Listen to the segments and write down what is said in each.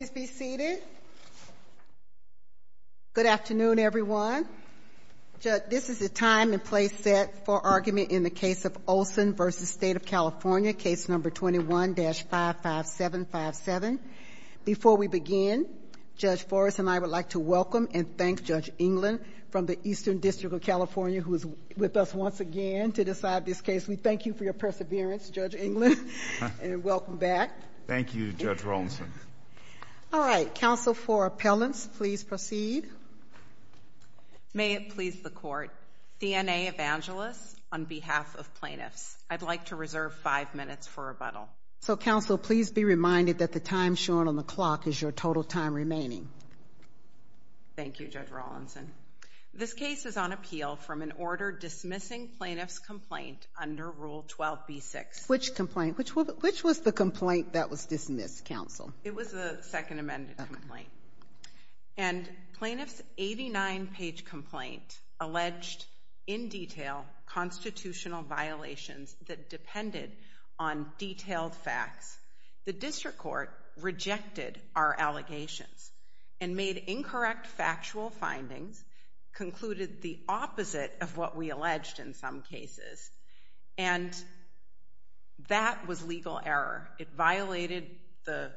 Please be seated. Good afternoon everyone. This is the time and place set for argument in the case of Olson v. State of California, case number 21-55757. Before we begin, Judge Forrest and I would like to welcome and thank Judge England from the Eastern District of California who is with us once again to decide this case. We thank you for your perseverance, Judge England, and welcome back. Thank you, Judge Rawlinson. All right, counsel for appellants, please proceed. May it please the court, CNA Evangelist, on behalf of plaintiffs, I'd like to reserve five minutes for rebuttal. So, counsel, please be reminded that the time shown on the clock is your total time remaining. Thank you, Judge Rawlinson. This case is on plaintiff's complaint under Rule 12b-6. Which complaint? Which was the complaint that was dismissed, counsel? It was the second amended complaint. And plaintiff's 89-page complaint alleged in detail constitutional violations that depended on detailed facts. The district court rejected our allegations and made incorrect factual findings, concluded the opposite of what we alleged in some cases. And that was legal error. It violated the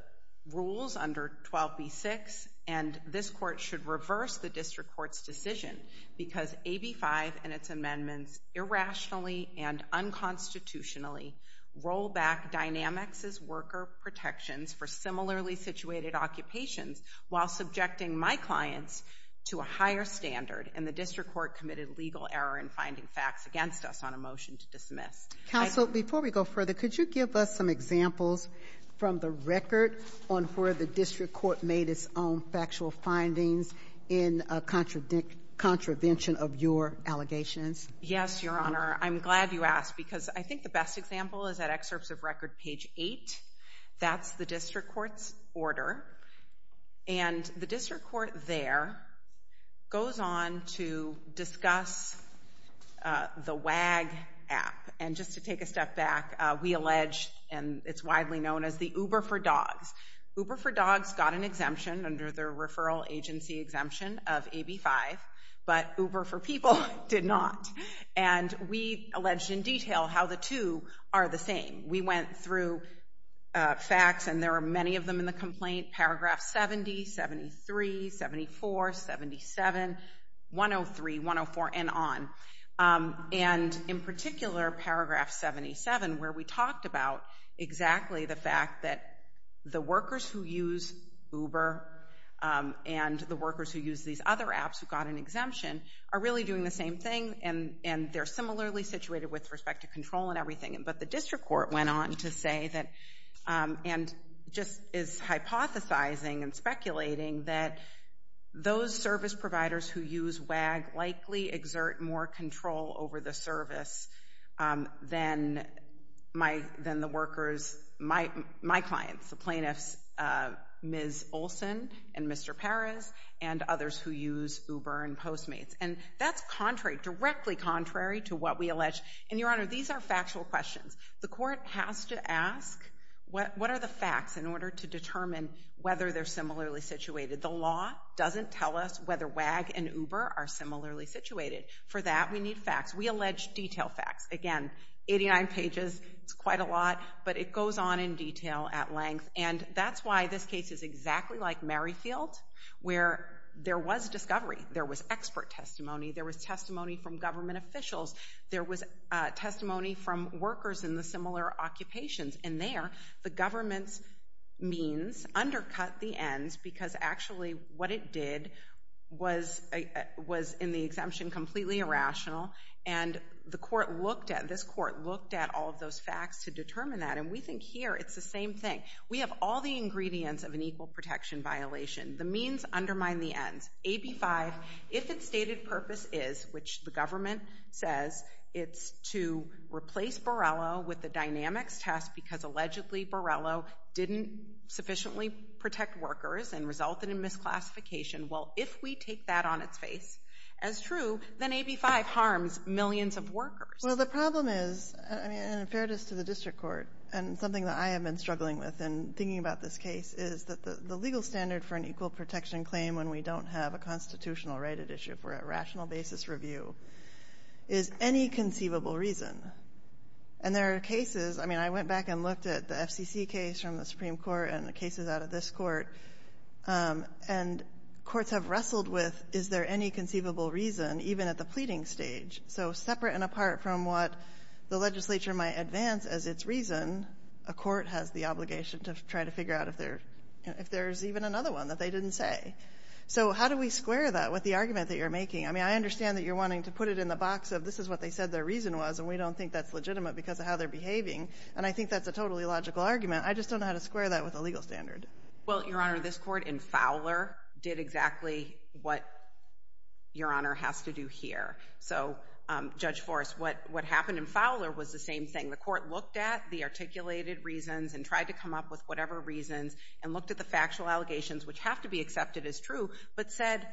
rules under 12b-6 and this court should reverse the district court's decision because AB-5 and its amendments irrationally and unconstitutionally roll back Dynamics' worker protections for similarly situated occupations while subjecting my clients to a higher standard. And the district court committed legal error in finding facts against us on a motion to dismiss. Counsel, before we go further, could you give us some examples from the record on where the district court made its own factual findings in contravention of your allegations? Yes, Your Honor. I'm glad you asked because I think the best example is at excerpts of record page 8. That's the the WAG app. And just to take a step back, we allege, and it's widely known as the Uber for Dogs. Uber for Dogs got an exemption under their referral agency exemption of AB-5, but Uber for People did not. And we alleged in detail how the two are the same. We went through facts, and there are many of them in the complaint. Paragraph 70, 73, 74, 77, 103, 104, and on. And in particular, paragraph 77, where we talked about exactly the fact that the workers who use Uber and the workers who use these other apps who got an exemption are really doing the same thing, and they're similarly situated with respect to control and everything. But the district court went on to say that, and just is hypothesizing and speculating that those service providers who use WAG likely exert more control over the service than my than the workers, my clients, the plaintiffs, Ms. Olson and Mr. Perez, and others who use Uber and Postmates. And that's contrary, directly contrary to what we allege. And, Your Honor, these are factual questions. The court has to ask what are the facts in order to determine whether they're similarly situated. The law doesn't tell us whether WAG and Uber are similarly situated. For that, we need facts. We allege detail facts. Again, 89 pages, it's quite a lot, but it goes on in detail at length. And that's why this case is exactly like Merrifield, where there was discovery, there was expert testimony, there was testimony from government officials, there was testimony from workers in the similar occupations. And there, the government's means undercut the ends, because actually what it did was in the exemption completely irrational. And the court looked at, this court looked at all of those facts to determine that. And we think here it's the same thing. We have all the ingredients of an equal protection violation. The means undermine the ends. AB 5, if its stated purpose is, which the government says, it's to replace Borrello with the dynamics test because allegedly Borrello didn't sufficiently protect workers and resulted in misclassification, well, if we take that on its face as true, then AB 5 harms millions of workers. Well, the problem is, and in fairness to the district court, and something that I have been struggling with in thinking about this case, is that the legal standard for an equal basis review is any conceivable reason. And there are cases, I mean, I went back and looked at the FCC case from the Supreme Court and the cases out of this court, and courts have wrestled with, is there any conceivable reason, even at the pleading stage? So separate and apart from what the legislature might advance as its reason, a court has the obligation to try to figure out if there's even another one that they didn't say. So how do we square that with the argument that you're making? I mean, I understand that you're wanting to put it in the box of, this is what they said their reason was, and we don't think that's legitimate because of how they're behaving. And I think that's a totally logical argument. I just don't know how to square that with a legal standard. Well, Your Honor, this court in Fowler did exactly what Your Honor has to do here. So Judge Forrest, what happened in Fowler was the same thing. The court looked at the articulated reasons and tried to come up with whatever reasons and looked at the factual allegations which have to be accepted as true, but said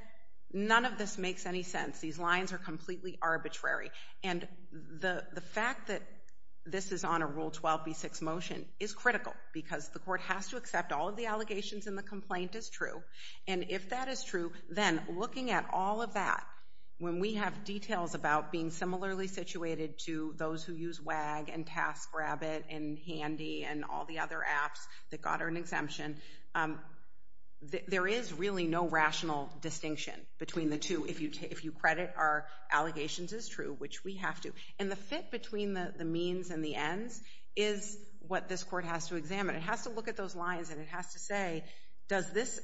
none of this makes any sense. These lines are completely arbitrary. And the fact that this is on a Rule 12b6 motion is critical because the court has to accept all of the allegations and the complaint is true. And if that is true, then looking at all of that, when we have details about being similarly situated to those who use WAG and TaskRabbit and Handy and all the other apps that got an exemption, there is really no rational distinction between the two if you credit our allegations as true, which we have to. And the fit between the means and the ends is what this court has to examine. It has to look at those lines and it has to say, does this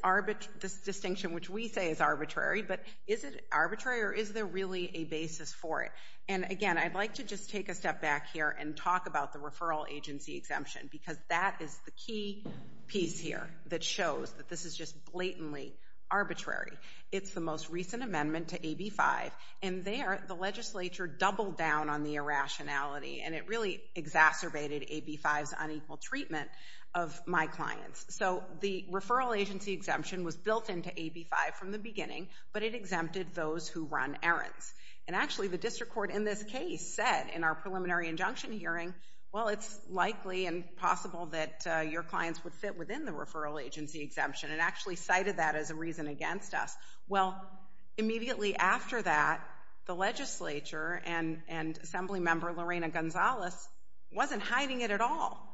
distinction, which we say is arbitrary, but is it arbitrary or is there really a basis for it? And again, I'd like to just take a step back here and talk about the referral agency exemption because that is the key piece here that shows that this is just blatantly arbitrary. It's the most recent amendment to AB 5 and there the legislature doubled down on the irrationality and it really exacerbated AB 5's unequal treatment of my clients. So the referral agency exemption was built into AB 5 from the beginning, but it exempted those who run errands. And actually the district court in this case said in our preliminary injunction hearing, well, it's likely and possible that your clients would fit within the referral agency exemption and actually cited that as a reason against us. Well, immediately after that, the legislature and Assemblymember Lorena Gonzalez wasn't hiding it at all.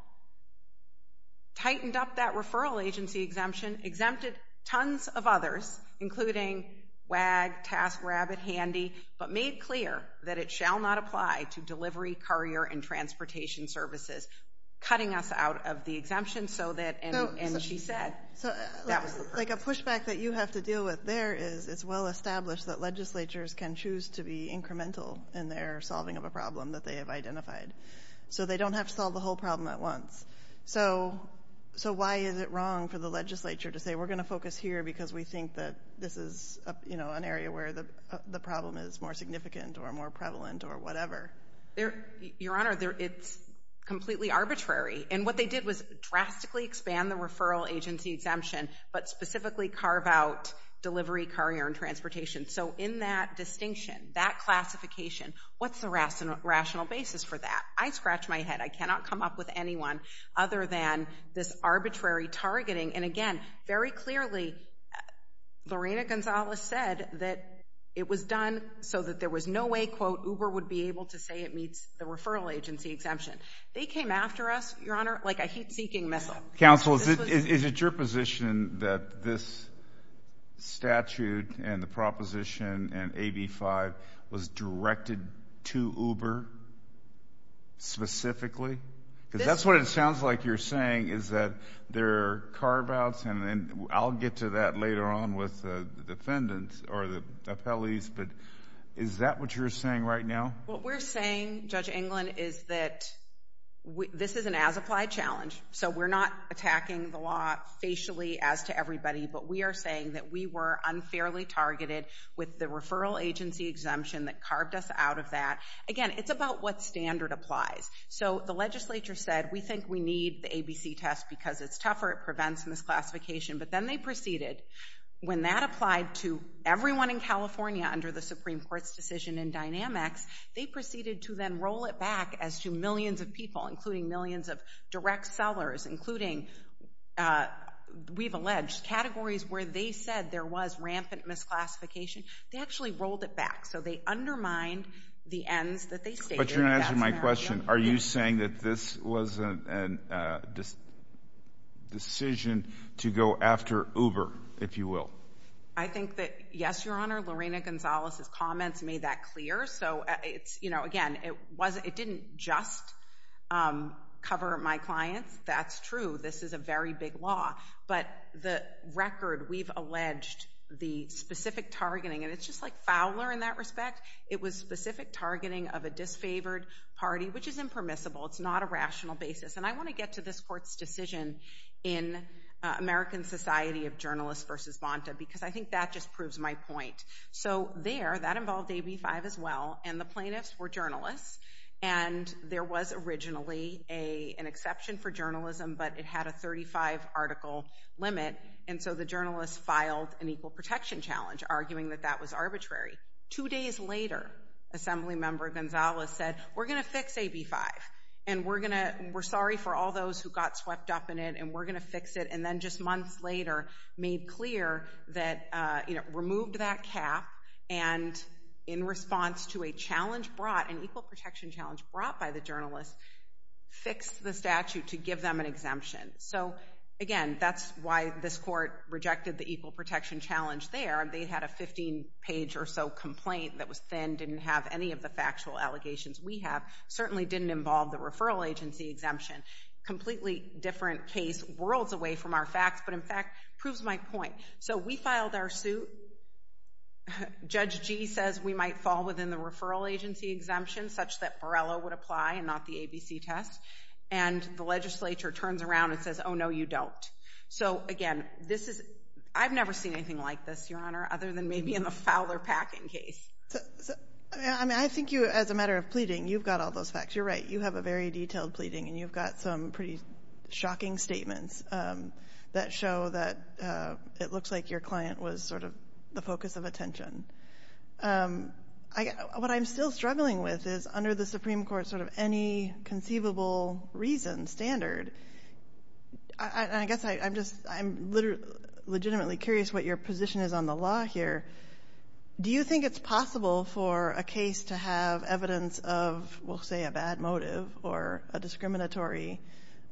Tightened up that referral agency exemption, exempted tons of others, including WAG, TaskRabbit, Handy, but made clear that it shall not apply to delivery, courier, and transportation services. Cutting us out of the exemption so that, and she said, that was the purpose. Like a pushback that you have to deal with there is it's well established that legislatures can choose to be incremental in their solving of a problem that they have identified. So they don't have to solve the whole problem at once. So why is it wrong for the legislature to say we're going to focus here because we think that this is an area where the problem is more significant or more prevalent or whatever? Your Honor, it's completely arbitrary. And what they did was drastically expand the referral agency exemption, but specifically carve out delivery, courier, and transportation. So in that distinction, that classification, what's the rational basis for that? I scratch my head. I cannot come up with anyone other than this arbitrary targeting. And again, very clearly Lorena Gonzalez said that it was done so that there was no way, quote, Uber would be able to say it meets the referral agency exemption. They came after us, Your Honor, like a heat-seeking missile. Counsel, is it your position that this statute and the proposition and AB 5 was directed to Uber specifically? Because that's what it sounds like you're saying is that there are carve-outs, and I'll get to that later on with the defendants or the appellees, but is that what you're saying right now? What we're saying, Judge England, is that this is an as-applied challenge. So we're not attacking the law facially as to everybody, but we are saying that we were unfairly targeted with the referral agency exemption that carved us out of that. Again, it's about what standard applies. So the legislature said, We think we need the ABC test because it's tougher. It prevents misclassification. But then they proceeded. When that applied to everyone in California under the Supreme Court's decision in Dynamics, they proceeded to then roll it back as to millions of people, including millions of direct sellers, including, we've alleged, categories where they said there was rampant misclassification. They actually rolled it back. So they undermined the ends that they stated. But you're not answering my question. Are you saying that this was a decision to go after Uber, if you will? I think that, yes, Your Honor, Lorena Gonzalez's comments made that clear. So, again, it didn't just cover my clients. That's true. This is a very big law. But the record, we've alleged the specific targeting, and it's just like Fowler in that respect. It was specific targeting of a disfavored party, which is impermissible. It's not a rational basis. And I want to get to this court's decision in American Society of Journalists v. Bonta, because I think that just proves my point. So there, that involved AB5 as well, and the plaintiffs were journalists. And there was originally an exception for journalism, but it had a 35-article limit. And so the journalists filed an equal protection challenge, arguing that that was arbitrary. Two days later, Assemblymember Gonzalez said, we're going to fix AB5, and we're sorry for all those who got swept up in it, and we're going to fix it. And then just months later, made clear that, you know, removed that cap, and in response to a challenge brought, an equal protection challenge brought by the journalists, fixed the statute to give them an exemption. So, again, that's why this court rejected the equal protection challenge there. They had a 15-page or so complaint that was thin, didn't have any of the factual allegations we have, certainly didn't involve the referral agency exemption. Completely different case worlds away from our facts, but, in fact, proves my point. So we filed our suit. Judge G. says we might fall within the referral agency exemption, such that Borrello would apply and not the ABC test. And the legislature turns around and says, oh, no, you don't. So, again, this is — I've never seen anything like this, Your Honor, other than maybe in the Fowler-Packin case. So, I mean, I think you, as a matter of pleading, you've got all those facts. You're right. You have a very detailed pleading, and you've got some pretty shocking statements that show that it looks like your client was sort of the focus of attention. What I'm still struggling with is, under the Supreme Court sort of any conceivable reason, standard, I guess I'm just — I'm legitimately curious what your position is on the law here. Do you think it's possible for a case to have evidence of, we'll say, a discriminative or a discriminatory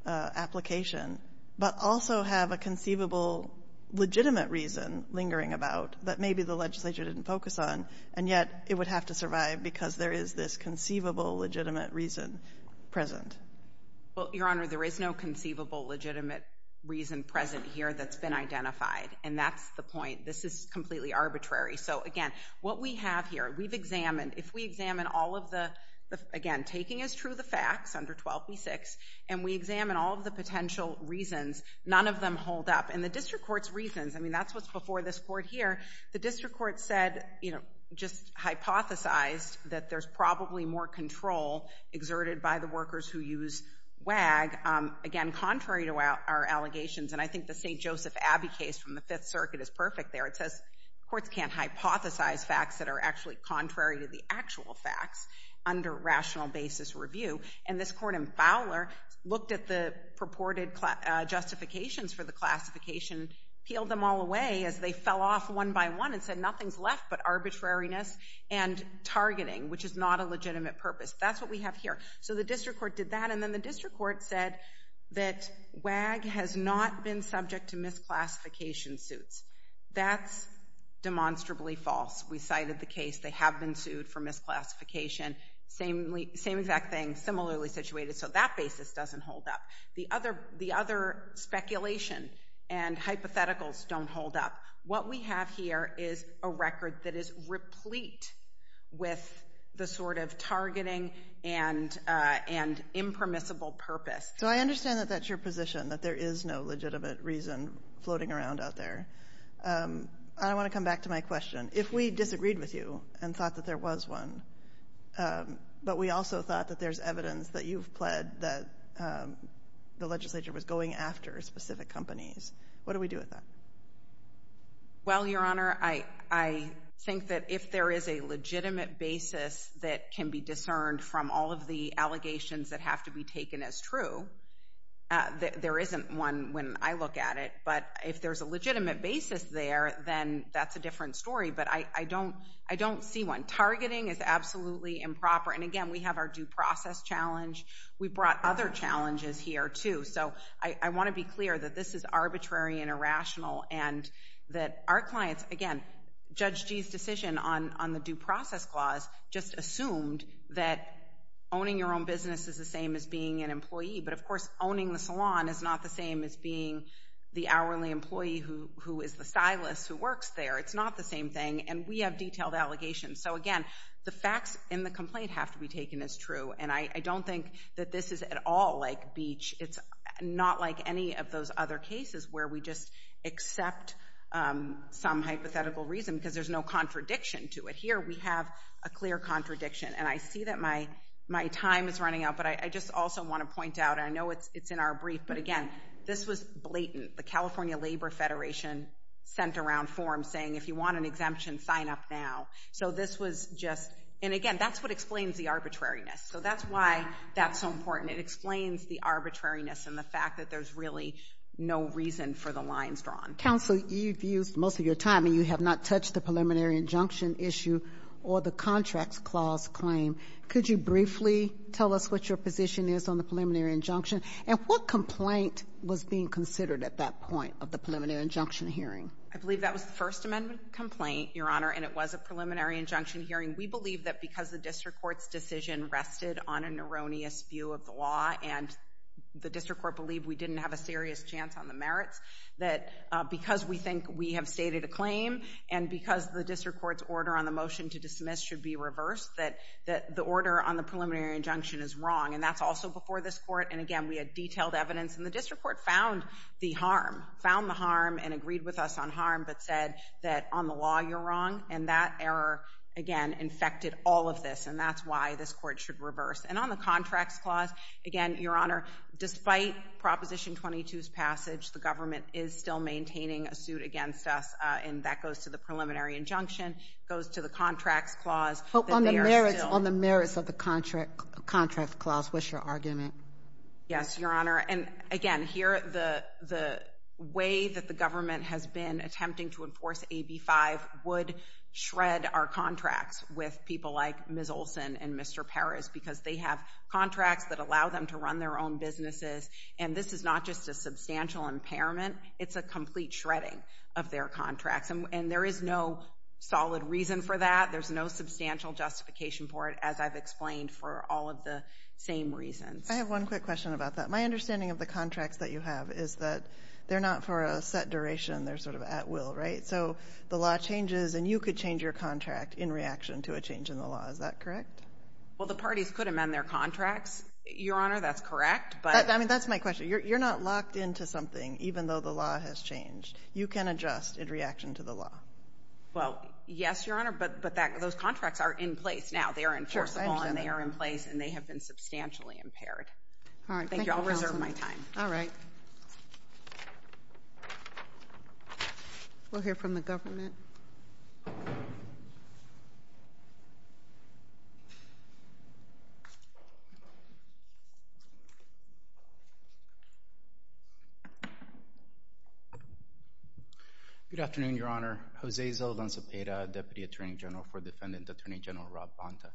application, but also have a conceivable, legitimate reason lingering about that maybe the legislature didn't focus on, and yet it would have to survive because there is this conceivable, legitimate reason present? Well, Your Honor, there is no conceivable, legitimate reason present here that's been identified, and that's the point. This is completely arbitrary. So, again, what we have here, we've examined. If we examine all of the — again, taking as true the facts, under 12b-6, and we examine all of the potential reasons, none of them hold up. And the district court's reasons — I mean, that's what's before this court here — the district court said, you know, just hypothesized that there's probably more control exerted by the workers who use WAG, again, contrary to our allegations. And I think the St. Joseph Abbey case from the Fifth Circuit is perfect there. It says courts can't hypothesize facts that are actually contrary to the actual facts under rational basis review. And this court in Fowler looked at the purported justifications for the classification, peeled them all away as they fell off one by one and said, nothing's left but arbitrariness and targeting, which is not a legitimate purpose. That's what we have here. So the district court did that, and then the district court said that WAG has not been subject to misclassification suits. That's demonstrably false. We cited the case. They have been sued for misclassification. Same exact thing, similarly situated. So that basis doesn't hold up. The other speculation and hypotheticals don't hold up. What we have here is a record that is replete with the sort of targeting and impermissible purpose. So I understand that that's your position, that there is no legitimate reason floating around out there. I want to come back to my question. If we disagreed with you and thought that there was one, but we also thought that there's evidence that you've pled that the legislature was going after specific companies, what do we do with that? Well, Your Honor, I think that if there is a legitimate basis that can be discerned from all of the allegations that have to be taken as true, there isn't one when I look at it. But if there's a legitimate basis there, then that's a different story. But I don't see one. Targeting is absolutely improper. And again, we have our due process challenge. We brought other challenges here, too. So I want to be clear that this is arbitrary and irrational and that our clients, again, Judge Gee's decision on the due process clause just assumed that owning your own business is the same as being an employee. But of course, owning the salon is not the same as being the hourly employee who is the stylist who works there. It's not the same thing. And we have detailed allegations. So again, the facts in the complaint have to be taken as true. And I don't think that this is at all like Beach. It's not like any of those other cases where we just accept some hypothetical reason because there's no contradiction to it. Here, we have a clear contradiction. And I see that my time is running out, but I just also want to point out, and I know it's in our brief, but again, this was blatant. The California Labor Federation sent around forms saying if you want an exemption, sign up now. So this was just, and again, that's what explains the arbitrariness. So that's why that's so important. It explains the arbitrariness and the fact that there's really no reason for the lines drawn. Counsel, you've used most of your time and you have not touched the preliminary injunction issue or the contracts clause claim. Could you briefly tell us what your position is on the preliminary injunction and what complaint was being considered at that point of the preliminary injunction hearing? I believe that was the First Amendment complaint, Your Honor, and it was a preliminary injunction hearing. We believe that because the district court's decision rested on an erroneous view of the law and the district court believed we didn't have a serious chance on the merits, that because we think we have stated a claim and because the district court's order on the motion to dismiss should be reversed, that the order on the preliminary injunction is wrong. And that's also before this Court. And again, we had detailed evidence. And the district court found the harm, found the harm and agreed with us on harm, but said that on the law, you're wrong. And that error, again, infected all of this. And that's why this Court should reverse. And on the contracts clause, again, Your Honor, despite Proposition 22's passage, the government is still maintaining a suit against us, and that goes to the preliminary injunction, goes to the contracts clause. But on the merits of the contract clause, what's your argument? Yes, Your Honor. And again, here, the way that the government has been attempting to enforce AB 5 would shred our contracts with people like Ms. Olson and Mr. Parris because they have contracts that allow them to run their own businesses. And this is not just a substantial impairment. It's a complete shredding of their contracts. And there is no solid reason for that. There's no substantial justification for it, as I've explained, for all of the same reasons. I have one quick question about that. My understanding of the contracts that you have is that they're not for a set duration. They're sort of at will, right? So the law changes, and you could change your contract in reaction to a change in the law. Is that correct? Well, the parties could amend their contracts, Your Honor. That's correct. But I mean, that's my question. You're not locked into something, even though the law has changed. You can adjust in reaction to the law. Well, yes, Your Honor. But those contracts are in place now. They are enforceable, and they are in place, and they have been substantially impaired. Thank you. I'll reserve my time. Good afternoon, Your Honor. Jose Zaldanza-Peda, Deputy Attorney General for Defendant Attorney General Rob Bonta.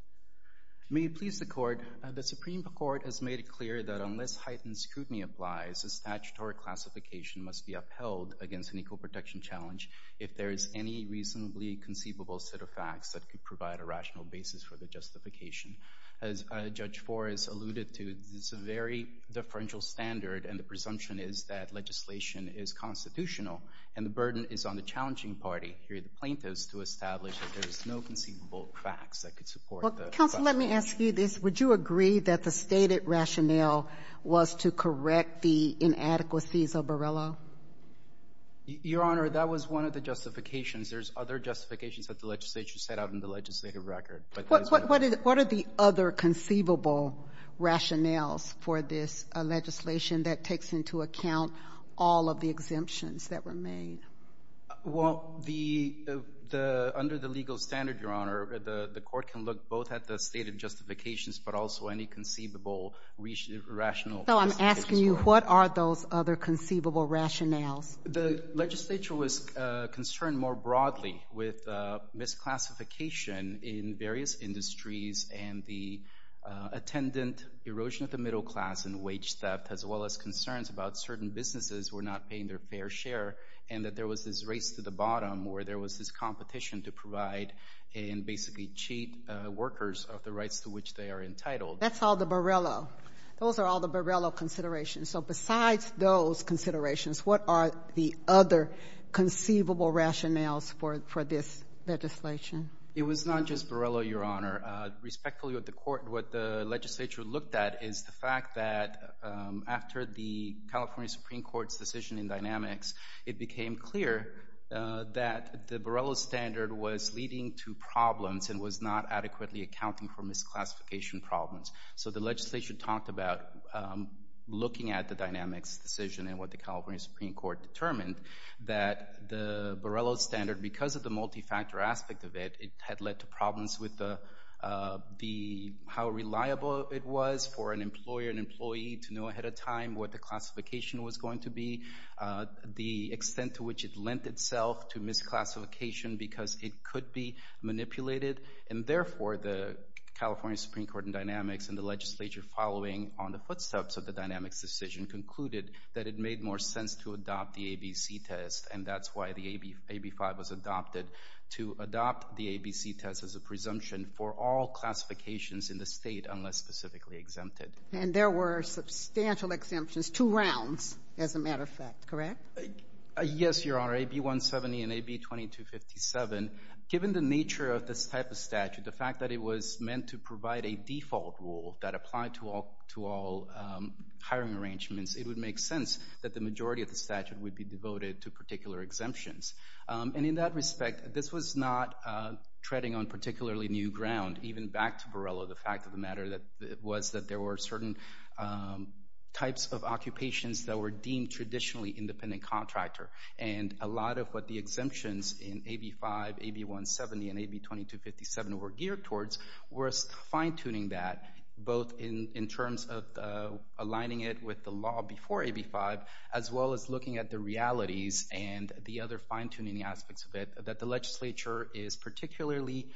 May it please the Court, the Supreme Court has made it clear that unless heightened scrutiny applies, a statutory classification must be upheld against an equal protection challenge if there is any reasonably conceivable set of facts that could provide a rational basis for the justification. As Judge Forrest alluded to, it's a very differential standard, and the presumption is that legislation is constitutional, and the burden is on the challenging party, here the plaintiffs, to establish that there is no conceivable facts that could support that. Counsel, let me ask you this. Would you agree that the stated rationale was to correct the inadequacies of Borrello? Your Honor, that was one of the justifications. There's other justifications that the legislature set out in the legislative record. What are the other conceivable rationales for this legislation that takes into account all of the exemptions that were made? Well, under the legal standard, Your Honor, the court can look both at the stated justifications, but also any conceivable rational So I'm asking you, what are those other conceivable rationales? The legislature was concerned more and the attendant erosion of the middle class and wage theft, as well as concerns about certain businesses were not paying their fair share, and that there was this race to the bottom, where there was this competition to provide and basically cheat workers of the rights to which they are entitled. That's all the Borrello. Those are all the Borrello considerations. So besides those considerations, what are the other conceivable rationales for this legislation? It was not just Borrello, Your Honor. Respectfully, what the legislature looked at is the fact that after the California Supreme Court's decision in dynamics, it became clear that the Borrello standard was leading to problems and was not adequately accounting for misclassification problems. So the legislature talked about looking at the dynamics decision and what the California aspect of it, it had led to problems with how reliable it was for an employer and employee to know ahead of time what the classification was going to be, the extent to which it lent itself to misclassification because it could be manipulated. And therefore, the California Supreme Court in dynamics and the legislature following on the footsteps of the dynamics decision concluded that it made more sense to adopt the ABC test. And that's why the AB5 was to adopt the ABC test as a presumption for all classifications in the state unless specifically exempted. And there were substantial exemptions, two rounds as a matter of fact, correct? Yes, Your Honor. AB170 and AB2257, given the nature of this type of statute, the fact that it was meant to provide a default rule that applied to all hiring arrangements, it would make sense that the majority of the statute would be devoted to particular exemptions. And in that respect, this was not treading on particularly new ground. Even back to Borrello, the fact of the matter was that there were certain types of occupations that were deemed traditionally independent contractor. And a lot of what the exemptions in AB5, AB170, and AB2257 were geared towards were fine-tuning that both in terms of aligning it with the law before AB5 as well as looking at the realities and the other fine-tuning aspects of it that the legislature is particularly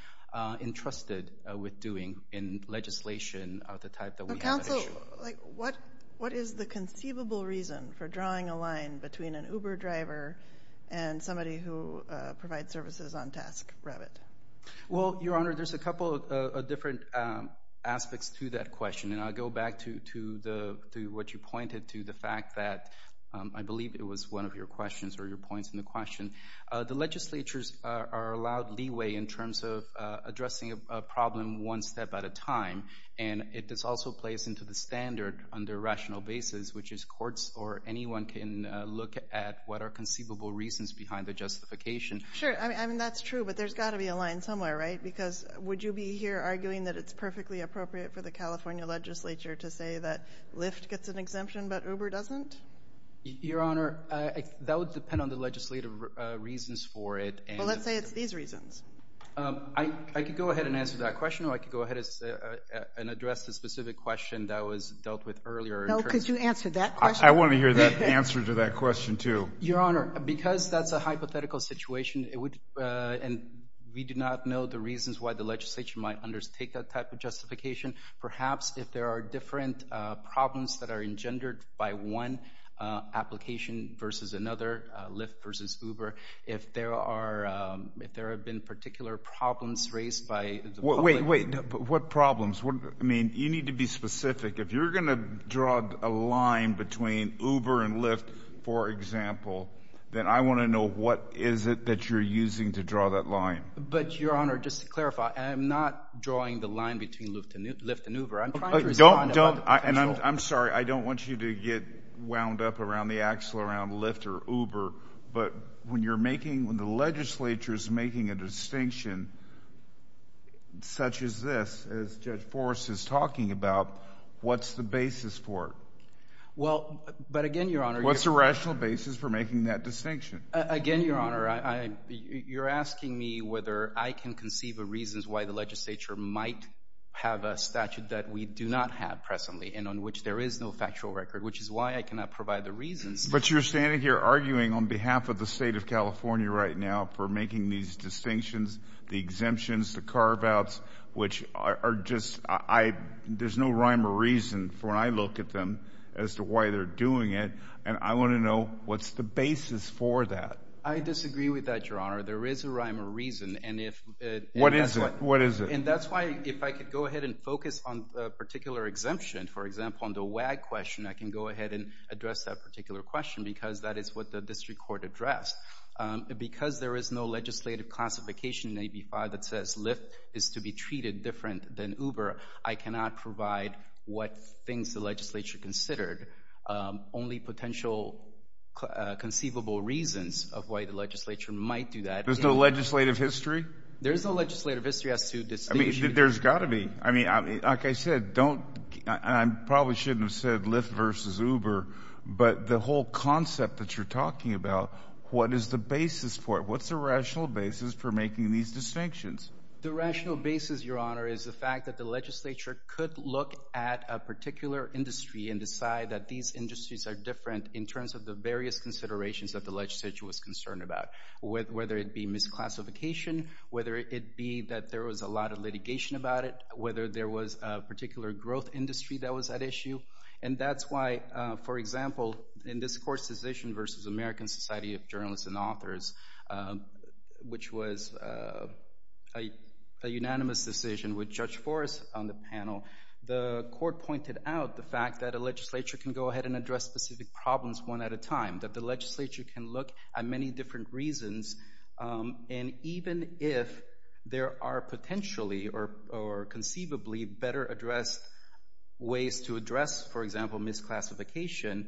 entrusted with doing in legislation of the type that we have at issue. But counsel, what is the conceivable reason for drawing a line between an Uber driver and somebody who provides services on task, Revit? Well, Your Honor, there's a couple of different aspects to that question. And I'll go back to what you pointed to, the fact that I believe it was one of your questions or your points in the question. The legislatures are allowed leeway in terms of addressing a problem one step at a time. And this also plays into the standard under rational basis, which is courts or anyone can look at what are conceivable reasons behind the justification. Sure. I mean, that's true, but there's got to be a line somewhere, right? Because would you be here arguing that it's perfectly appropriate for the California legislature to say that Lyft gets an exemption, but Uber doesn't? Your Honor, that would depend on the legislative reasons for it. Well, let's say it's these reasons. I could go ahead and answer that question, or I could go ahead and address the specific question that was dealt with earlier. No, because you answered that question. I want to hear the answer to that question, too. Your Honor, because that's a hypothetical situation, and we do not know the reasons why the legislature might undertake that type of justification, perhaps if there are different problems that are engendered by one application versus another, Lyft versus Uber, if there have been particular problems raised by the public. Wait, wait, what problems? You need to be specific. If you're going to draw a line between Uber and Lyft, for example, then I want to know what is it that you're using to draw that line? But, Your Honor, just to clarify, I'm not drawing the line between Lyft and Uber. I'm trying to respond about the potential— I'm sorry. I don't want you to get wound up around the axle around Lyft or Uber, but when you're making—when the legislature is making a distinction such as this, as Judge Forrest is talking about, what's the basis for it? Well, but again, Your Honor— What's the rational basis for making that distinction? Again, Your Honor, you're asking me whether I can conceive of reasons why the legislature might have a statute that we do not have presently and on which there is no factual record, which is why I cannot provide the reasons. But you're standing here arguing on behalf of the state of California right now for making these distinctions, the exemptions, the carve-outs, which are just—there's no rhyme or reason for when I look at them as to why they're doing it, and I want to know what's the reason for that. I disagree with that, Your Honor. There is a rhyme or reason, and if— What is it? What is it? And that's why, if I could go ahead and focus on a particular exemption, for example, on the WAG question, I can go ahead and address that particular question because that is what the district court addressed. Because there is no legislative classification in AB5 that says Lyft is to be treated different than Uber, I cannot provide what things the legislature considered. Only potential conceivable reasons of why the legislature might do that— There's no legislative history? There's no legislative history as to distinction— There's got to be. I mean, like I said, don't—I probably shouldn't have said Lyft versus Uber, but the whole concept that you're talking about, what is the basis for it? What's the rational basis for making these distinctions? The rational basis, Your Honor, is the fact that the legislature could look at a particular industry and decide that these industries are different in terms of the various considerations that the legislature was concerned about, whether it be misclassification, whether it be that there was a lot of litigation about it, whether there was a particular growth industry that was at issue. And that's why, for example, in this court's decision versus American Society of Journalists and Authors, which was a unanimous decision with Judge Forrest on the panel, the court pointed out the fact that a legislature can go ahead and address specific problems one at a time, that the legislature can look at many different reasons, and even if there are potentially or conceivably better-addressed ways to address, for example, misclassification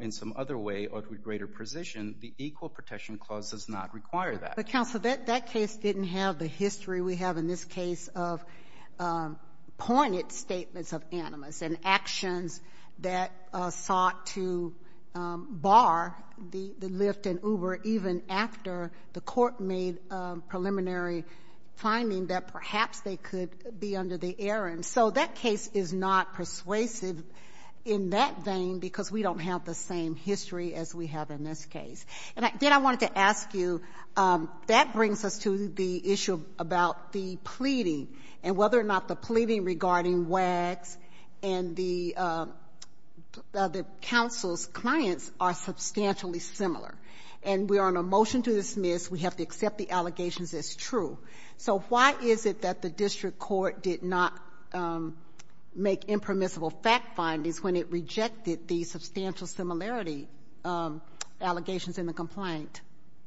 in some other way or to greater precision, the Equal Protection Clause does not require that. But, counsel, that case didn't have the history we have in this case of pointed statements of animus and actions that sought to bar the Lyft and Uber even after the court made a preliminary finding that perhaps they could be under the errand. So that case is not persuasive in that vein because we don't have the same history as we have in this case. And then I wanted to ask you, that brings us to the issue about the pleading and whether or not the pleading regarding WAGs and the counsel's clients are substantially similar. And we are on a motion to dismiss. We have to accept the allegations as true. So why is it that the district court did not make impermissible fact findings when it rejected the substantial similarity allegations in the complaint?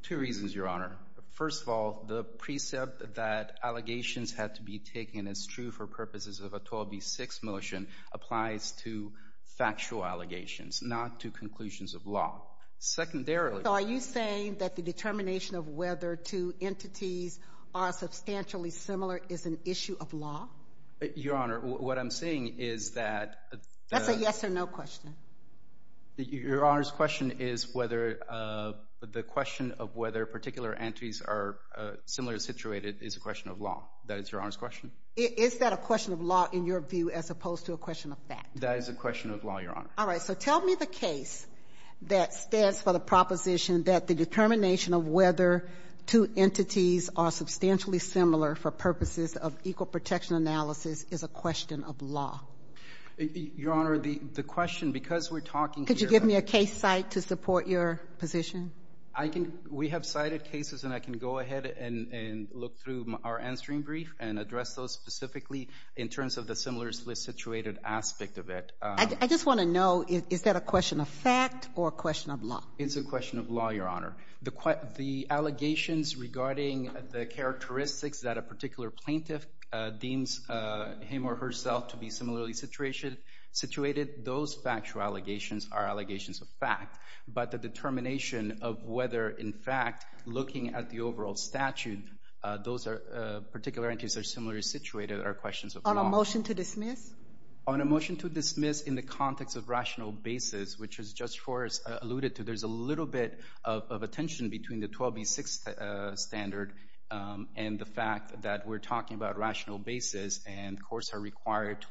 Two reasons, Your Honor. First of all, the precept that allegations had to be taken as true for purposes of a 12B6 motion applies to factual allegations, not to conclusions of law. Secondarily— So are you saying that the determination of whether two entities are substantially similar is an issue of law? Your Honor, what I'm saying is that— That's a yes or no question. Your Honor's question is whether the question of whether particular entities are similarly situated is a question of law. That is Your Honor's question? Is that a question of law in your view as opposed to a question of fact? That is a question of law, Your Honor. All right. So tell me the case that stands for the proposition that the determination of whether two entities are substantially similar for purposes of equal protection analysis is a question of law. Your Honor, the question, because we're talking here— Could you give me a case site to support your position? We have cited cases, and I can go ahead and look through our answering brief and address those specifically in terms of the similarly situated aspect of it. I just want to know, is that a question of fact or a question of law? It's a question of law, Your Honor. The allegations regarding the characteristics that a particular plaintiff deems him or herself to be similarly situated, those factual allegations are allegations of fact. But the determination of whether, in fact, looking at the overall statute, those particular entities are similarly situated are questions of law. On a motion to dismiss? On a motion to dismiss in the context of rational basis, which Judge Forrest alluded to, there's a little bit of a tension between the 12B6 standard and the fact that we're to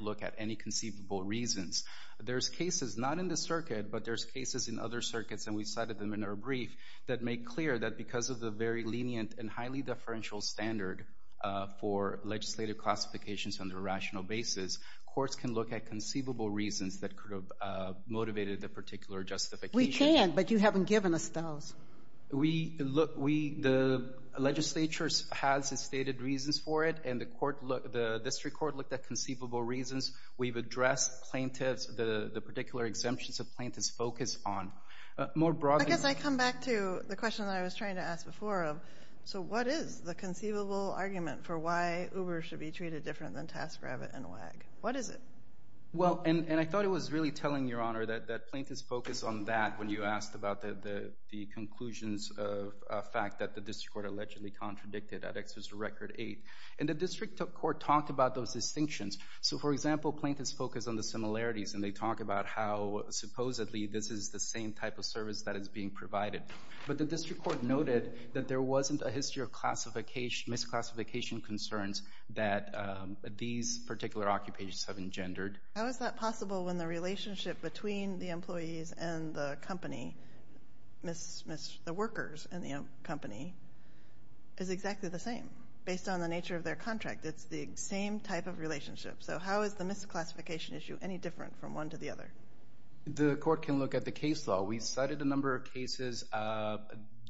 look at any conceivable reasons. There's cases not in the circuit, but there's cases in other circuits, and we cited them in our brief, that make clear that because of the very lenient and highly deferential standard for legislative classifications on the rational basis, courts can look at conceivable reasons that could have motivated the particular justification. We can, but you haven't given us those. The legislature has stated reasons for it, and the district court looked at conceivable reasons. We've addressed plaintiffs, the particular exemptions that plaintiffs focus on. More broadly- I guess I come back to the question that I was trying to ask before of, so what is the conceivable argument for why Uber should be treated different than TaskRabbit and WAG? What is it? Well, and I thought it was really telling, Your Honor, that plaintiffs focus on that when you asked about the conclusions of a fact that the district court allegedly contradicted at Exeter's Record 8. And the district court talked about those distinctions. So, for example, plaintiffs focus on the similarities, and they talk about how supposedly this is the same type of service that is being provided. But the district court noted that there wasn't a history of misclassification concerns that these particular occupations have engendered. How is that possible when the relationship between the employees and the company, the workers and the company, is exactly the same? Based on the nature of their contract, it's the same type of relationship. So how is the misclassification issue any different from one to the other? The court can look at the case law. We cited a number of cases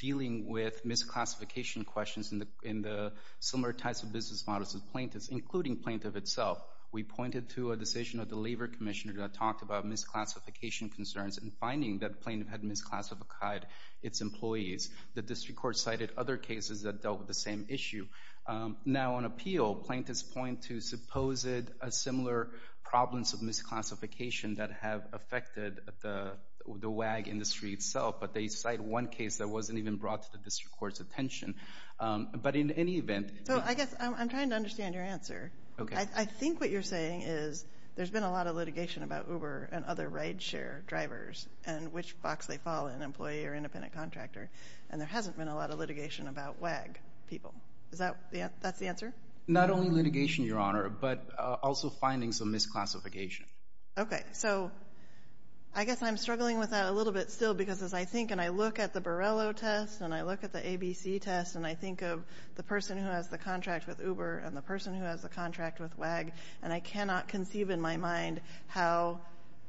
dealing with misclassification questions in the similar types of business models of plaintiffs, including plaintiff itself. We pointed to a decision of the Labor Commissioner that talked about misclassification concerns and finding that plaintiff had misclassified its employees. The district court cited other cases that dealt with the same issue. Now, on appeal, plaintiffs point to supposed similar problems of misclassification that have affected the WAG industry itself, but they cite one case that wasn't even brought to the district court's attention. But in any event— So I guess I'm trying to understand your answer. Okay. I think what you're saying is there's been a lot of litigation about Uber and other ride-share drivers and which box they fall in, employee or independent contractor. There hasn't been a lot of litigation about WAG people. Is that the answer? Not only litigation, Your Honor, but also finding some misclassification. Okay. So I guess I'm struggling with that a little bit still because as I think and I look at the Borrello test and I look at the ABC test and I think of the person who has the contract with Uber and the person who has the contract with WAG, and I cannot conceive in my mind how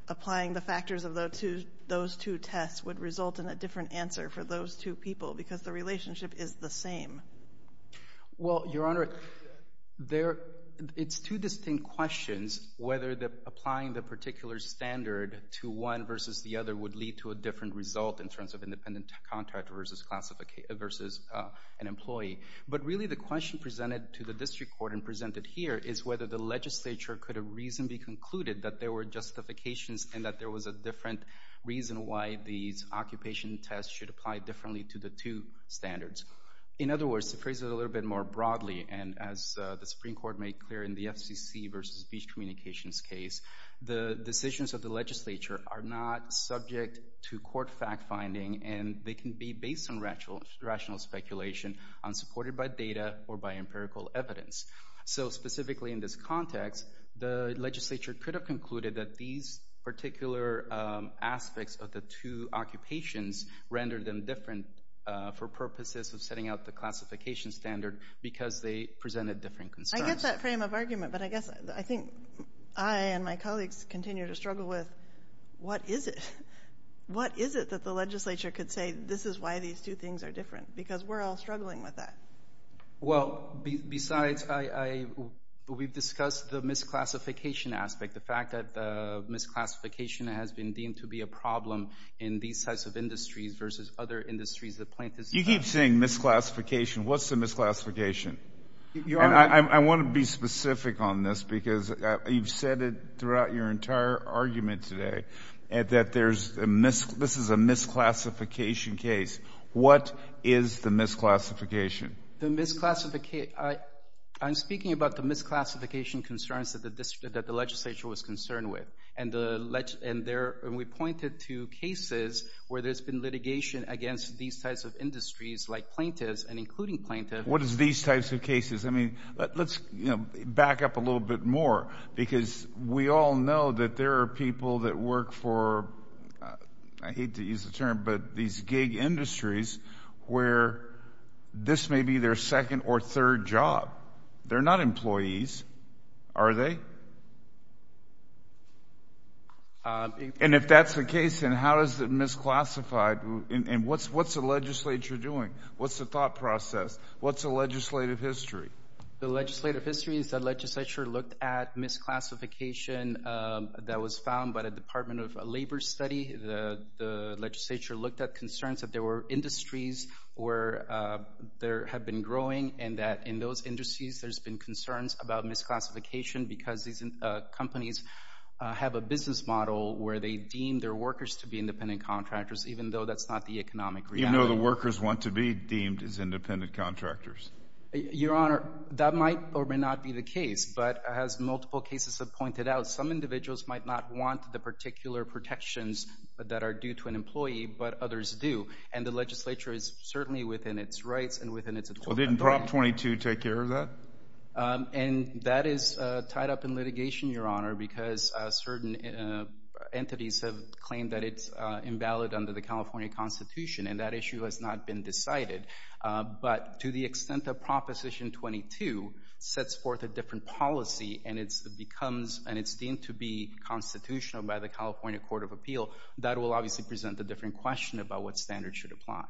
applying the factors of those two tests would result in a different answer for those two people because the relationship is the same. Well, Your Honor, it's two distinct questions whether applying the particular standard to one versus the other would lead to a different result in terms of independent contractor versus an employee. But really the question presented to the district court and presented here is whether the legislature could reasonably conclude that there were justifications and that there was a different reason why these occupation tests should apply differently to the two standards. In other words, to phrase it a little bit more broadly and as the Supreme Court made clear in the FCC versus speech communications case, the decisions of the legislature are not subject to court fact-finding and they can be based on rational speculation, unsupported by data or by empirical evidence. So specifically in this context, the legislature could have concluded that these particular aspects of the two occupations rendered them different for purposes of setting out the classification standard because they presented different concerns. I get that frame of argument, but I guess I think I and my colleagues continue to struggle with what is it? What is it that the legislature could say this is why these two things are different because we're all struggling with that? Well, besides, we've discussed the misclassification aspect, the fact that the misclassification has been deemed to be a problem in these types of industries versus other industries that plaintiffs- You keep saying misclassification. What's the misclassification? And I want to be specific on this because you've said it throughout your entire argument today that this is a misclassification case. What is the misclassification? I'm speaking about the misclassification concerns that the legislature was concerned with and we pointed to cases where there's been litigation against these types of industries like plaintiffs and including plaintiffs- What is these types of cases? I mean, let's back up a little bit more because we all know that there are people that work for, I hate to use the term, but these gig industries where this may be their second or third job. They're not employees, are they? And if that's the case, then how is it misclassified and what's the legislature doing? What's the thought process? What's the legislative history? The legislative history is the legislature looked at misclassification that was found by the Department of Labor study. The legislature looked at concerns that there were industries where there had been growing and that in those industries, there's been concerns about misclassification because these companies have a business model where they deem their workers to be independent contractors even though that's not the economic reality. Even though the workers want to be deemed as independent contractors? Your Honor, that might or may not be the case, but as multiple cases have pointed out, some individuals might not want the particular protections that are due to an employee, but others do. And the legislature is certainly within its rights and within its authority. Well, didn't Prop 22 take care of that? And that is tied up in litigation, Your Honor, because certain entities have claimed that it's invalid under the California Constitution and that issue has not been decided. But to the extent that Proposition 22 sets forth a different policy and it's deemed to be constitutional by the California Court of Appeal, that will obviously present a different question about what standards should apply.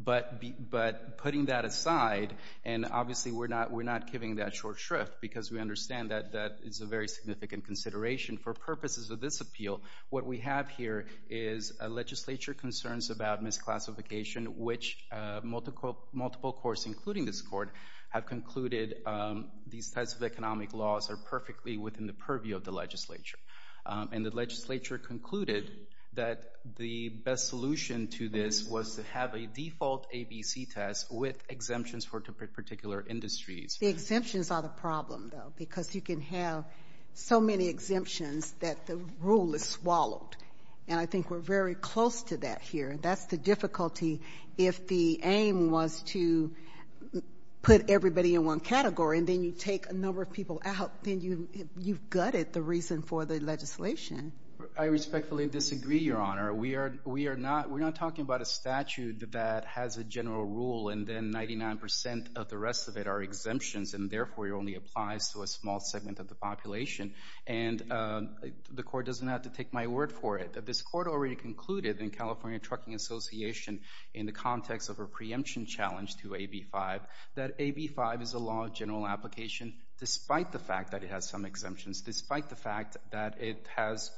But putting that aside, and obviously we're not giving that short shrift because we understand that that is a very significant consideration. For purposes of this appeal, what we have here is a legislature concerns about misclassification, which multiple courts, including this court, have concluded these types of economic laws are perfectly within the purview of the legislature. And the legislature concluded that the best solution to this was to have a default ABC test with exemptions for particular industries. The exemptions are the problem, though, because you can have so many exemptions that the rule is swallowed. And I think we're very close to that here. That's the difficulty. If the aim was to put everybody in one category and then you take a number of people out, then you've gutted the reason for the legislation. I respectfully disagree, Your Honor. We are not talking about a statute that has a general rule and then 99% of the rest of it are exemptions and therefore it only applies to a small segment of the population. And the court doesn't have to take my word for it. This court already concluded in California Trucking Association in the context of a preemption challenge to AB5 that AB5 is a law of general application despite the fact that it has some exemptions, despite the fact that it has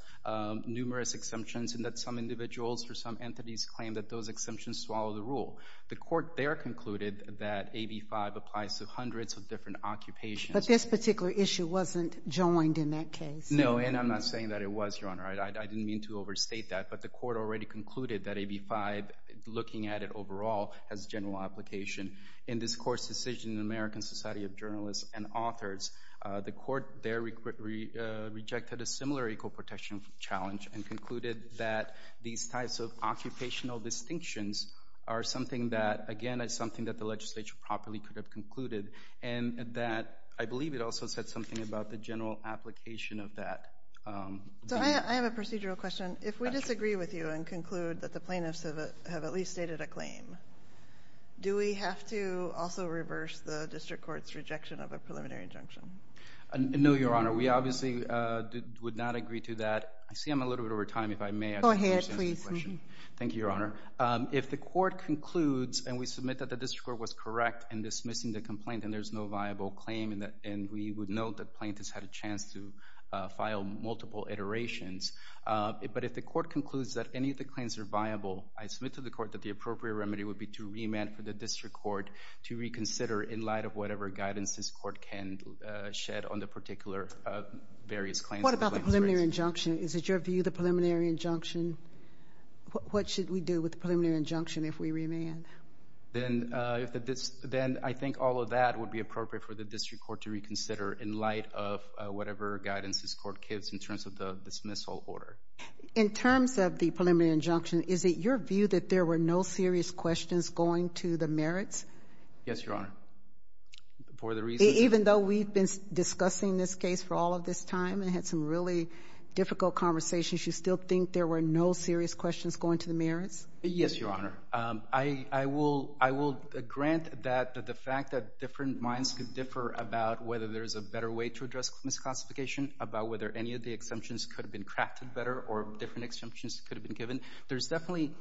numerous exemptions and that some individuals or some entities claim that those exemptions swallow the rule. The court there concluded that AB5 applies to hundreds of different occupations. But this particular issue wasn't joined in that case. No, and I'm not saying that it was, Your Honor. I didn't mean to overstate that, but the court already concluded that AB5, looking at it in this court's decision in the American Society of Journalists and Authors, the court there rejected a similar equal protection challenge and concluded that these types of occupational distinctions are something that, again, is something that the legislature properly could have concluded and that I believe it also said something about the general application of that. So I have a procedural question. If we disagree with you and conclude that the plaintiffs have at least stated a claim, do we have to also reverse the district court's rejection of a preliminary injunction? No, Your Honor. We obviously would not agree to that. I see I'm a little bit over time. If I may, I just wanted to ask a question. Go ahead, please. Thank you, Your Honor. If the court concludes and we submit that the district court was correct in dismissing the complaint and there's no viable claim and we would note that plaintiffs had a chance to file multiple iterations, but if the court concludes that any of the claims are viable, I submit to the court that the appropriate remedy would be to remand for the district court to reconsider in light of whatever guidance this court can shed on the particular various claims. What about the preliminary injunction? Is it your view the preliminary injunction, what should we do with the preliminary injunction if we remand? Then I think all of that would be appropriate for the district court to reconsider in light of whatever guidance this court gives in terms of the dismissal order. In terms of the preliminary injunction, is it your view that there were no serious questions going to the merits? Yes, Your Honor. Even though we've been discussing this case for all of this time and had some really difficult conversations, you still think there were no serious questions going to the merits? Yes, Your Honor. I will grant that the fact that different minds could differ about whether there's a better way to address misclassification, about whether any of the exemptions could have been crafted better or different exemptions could have been given. There's definitely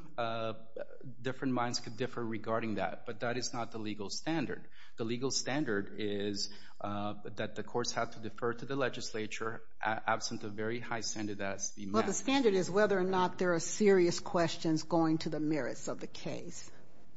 different minds could differ regarding that. But that is not the legal standard. The legal standard is that the courts have to defer to the legislature absent a very high standard that has to be met. Well, the standard is whether or not there are serious questions going to the merits of the case.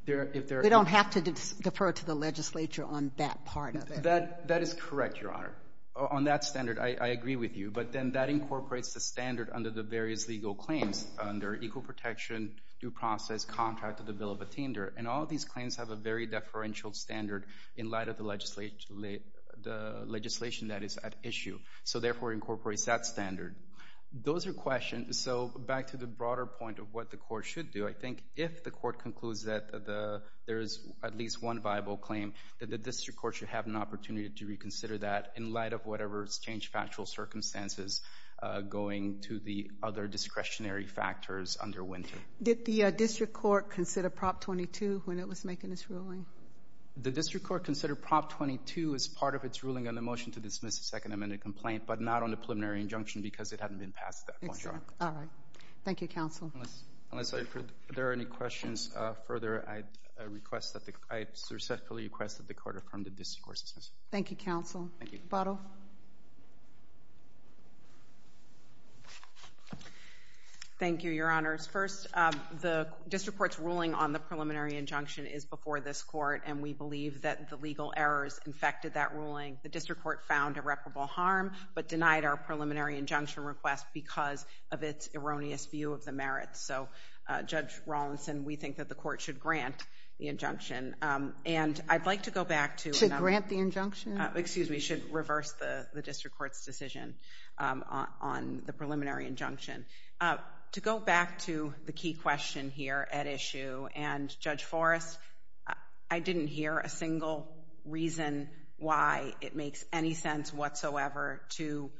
They don't have to defer to the legislature on that part of it. That is correct, Your Honor. On that standard, I agree with you. But then that incorporates the standard under the various legal claims under equal protection, due process, contract to the bill of attender. And all of these claims have a very deferential standard in light of the legislation that is at issue. So therefore, it incorporates that standard. Those are questions. So back to the broader point of what the court should do, I think if the court concludes that there is at least one viable claim, that the district court should have an opportunity to reconsider that in light of whatever has changed factual circumstances going to the other discretionary factors under Wynter. Did the district court consider Prop 22 when it was making its ruling? The district court considered Prop 22 as part of its ruling on the motion to dismiss a second amendment complaint, but not on the preliminary injunction because it hadn't been passed at that point, Your Honor. All right. Thank you, counsel. Unless there are any questions further, I respectfully request that the court affirm the district court's decision. Thank you, counsel. Thank you. Buddle. Thank you, Your Honors. First, the district court's ruling on the preliminary injunction is before this court, and we believe that the legal errors infected that ruling. The district court found irreparable harm, but denied our preliminary injunction request because of its erroneous view of the merits. So, Judge Rawlinson, we think that the court should grant the injunction. And I'd like to go back to— Excuse me. Should reverse the district court's decision on the preliminary injunction. To go back to the key question here at issue, and, Judge Forrest, I didn't hear a single reason why it makes any sense whatsoever to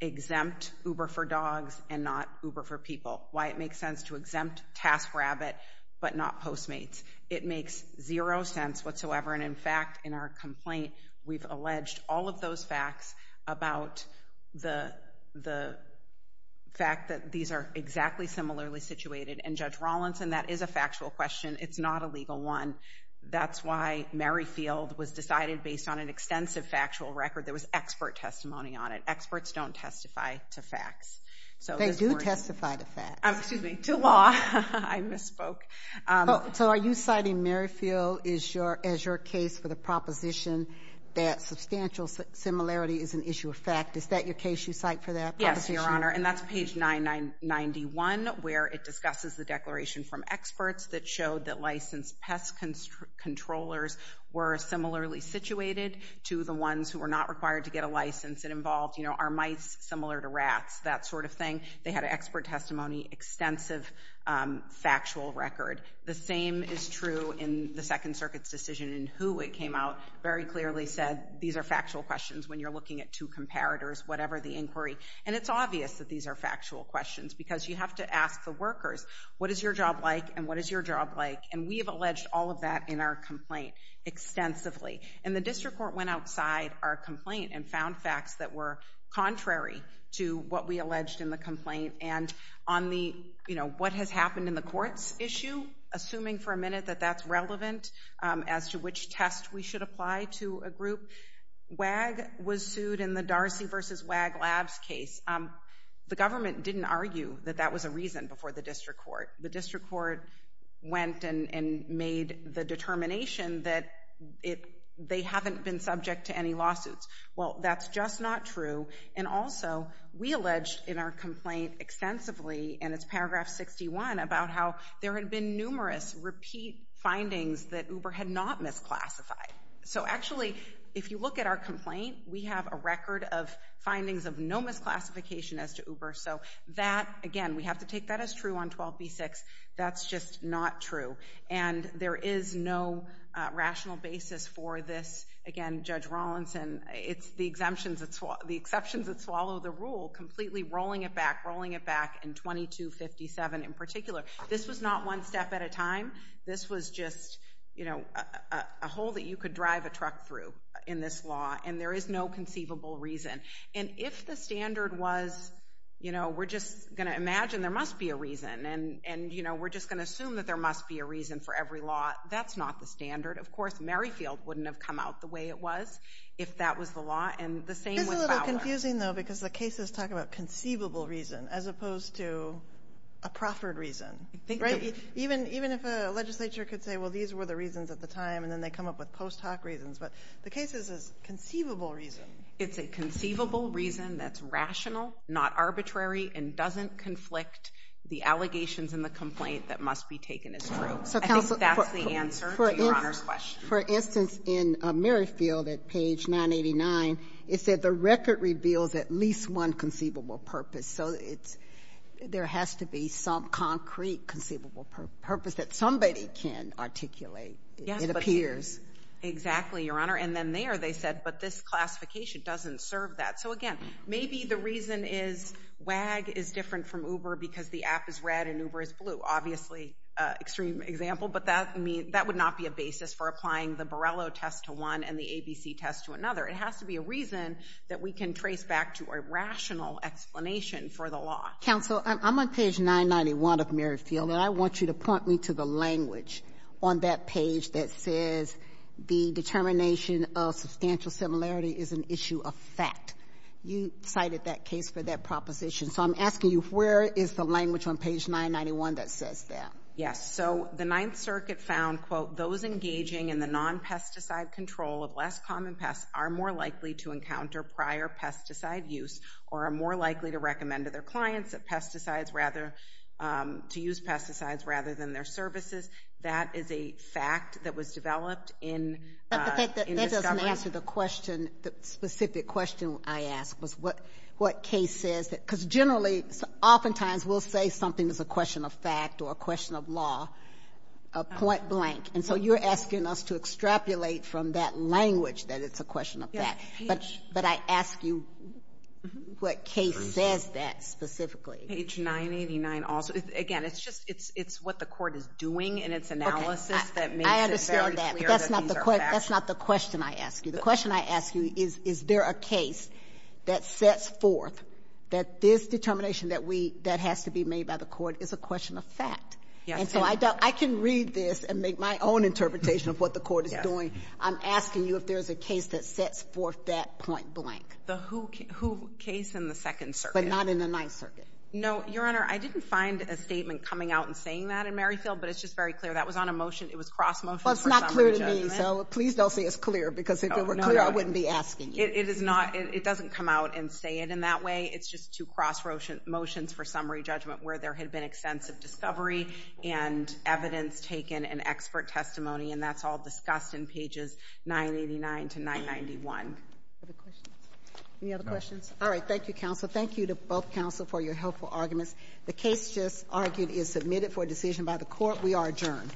exempt Uber for dogs and not Uber for people. Why it makes sense to exempt TaskRabbit, but not Postmates. It makes zero sense whatsoever. And, in fact, in our complaint, we've alleged all of those facts about the fact that these are exactly similarly situated. And, Judge Rawlinson, that is a factual question. It's not a legal one. That's why Merrifield was decided based on an extensive factual record. There was expert testimony on it. Experts don't testify to facts. They do testify to facts. Excuse me. To law. I misspoke. So are you citing Merrifield as your case for the proposition that substantial similarity is an issue of fact? Is that your case you cite for that proposition? Yes, Your Honor. And that's page 991 where it discusses the declaration from experts that showed that licensed pest controllers were similarly situated to the ones who were not required to get a license. It involved, you know, are mice similar to rats? That sort of thing. They had expert testimony, extensive factual record. The same is true in the Second Circuit's decision in who it came out. Very clearly said these are factual questions when you're looking at two comparators, whatever the inquiry. And it's obvious that these are factual questions because you have to ask the workers, what is your job like? And what is your job like? And we have alleged all of that in our complaint extensively. And the district court went outside our complaint and found facts that were contrary to what we alleged in the complaint. And on the, you know, what has happened in the court's issue, assuming for a minute that that's relevant as to which test we should apply to a group. WAG was sued in the Darcy v. WAG labs case. The government didn't argue that that was a reason before the district court. The district court went and made the determination that they haven't been subject to any lawsuits. Well, that's just not true. And also, we alleged in our complaint extensively, and it's paragraph 61, about how there had been numerous repeat findings that Uber had not misclassified. So actually, if you look at our complaint, we have a record of findings of no misclassification as to Uber. So that, again, we have to take that as true on 12b-6. That's just not true. And there is no rational basis for this. Again, Judge Rawlinson, it's the exceptions that swallow the rule, completely rolling it back, rolling it back in 22-57 in particular. This was not one step at a time. This was just, you know, a hole that you could drive a truck through in this law. And there is no conceivable reason. And if the standard was, you know, we're just going to imagine there must be a reason. And, you know, we're just going to assume that there must be a reason for every law. That's not the standard. Of course, Merrifield wouldn't have come out the way it was if that was the law. And the same with Fowler. It's a little confusing, though, because the cases talk about conceivable reason as opposed to a proffered reason, right? Even if a legislature could say, well, these were the reasons at the time, and then they come up with post hoc reasons. But the case is a conceivable reason. It's a conceivable reason that's rational, not arbitrary, and doesn't conflict the allegations in the complaint that must be taken as true. I think that's the answer to Your Honor's question. For instance, in Merrifield, at page 989, it said the record reveals at least one conceivable purpose. So there has to be some concrete conceivable purpose that somebody can articulate, it appears. Exactly, Your Honor. And then there they said, but this classification doesn't serve that. So, again, maybe the reason is WAG is different from Uber because the app is red and Uber is blue. Obviously, extreme example. But that would not be a basis for applying the Borrello test to one and the ABC test to another. It has to be a reason that we can trace back to a rational explanation for the law. Counsel, I'm on page 991 of Merrifield, and I want you to point me to the language on that page that says the determination of substantial similarity is an issue of fact. You cited that case for that proposition. So I'm asking you, where is the language on page 991 that says that? Yes. So the Ninth Circuit found, quote, those engaging in the non-pesticide control of less common pests are more likely to encounter prior pesticide use or are more likely to recommend to their clients that pesticides rather, to use pesticides rather than their services. That is a fact that was developed in discovery. Answer the question. The specific question I asked was what what case says that because generally, oftentimes will say something is a question of fact or a question of law, a point blank. And so you're asking us to extrapolate from that language that it's a question of that. But but I ask you what case says that specifically? Page 989. Also, again, it's just it's it's what the court is doing. And it's analysis that I understand that. That's not the question I ask you. The question I ask you is, is there a case that sets forth that this determination that we that has to be made by the court is a question of fact. And so I don't I can read this and make my own interpretation of what the court is doing. I'm asking you if there is a case that sets forth that point blank. The who case in the Second Circuit. But not in the Ninth Circuit. No, Your Honor, I didn't find a statement coming out and saying that in Merrifield, but it's just very clear that was on a motion. Well, it's not clear to me. So please don't say it's clear, because if it were clear, I wouldn't be asking. It is not. It doesn't come out and say it in that way. It's just two cross motions for summary judgment where there had been extensive discovery and evidence taken and expert testimony. And that's all discussed in pages 989 to 991. Any other questions? All right. Thank you, counsel. Thank you to both counsel for your helpful arguments. The case just argued is submitted for decision by the court. We are adjourned. Thank you. All rise. This court adjourned.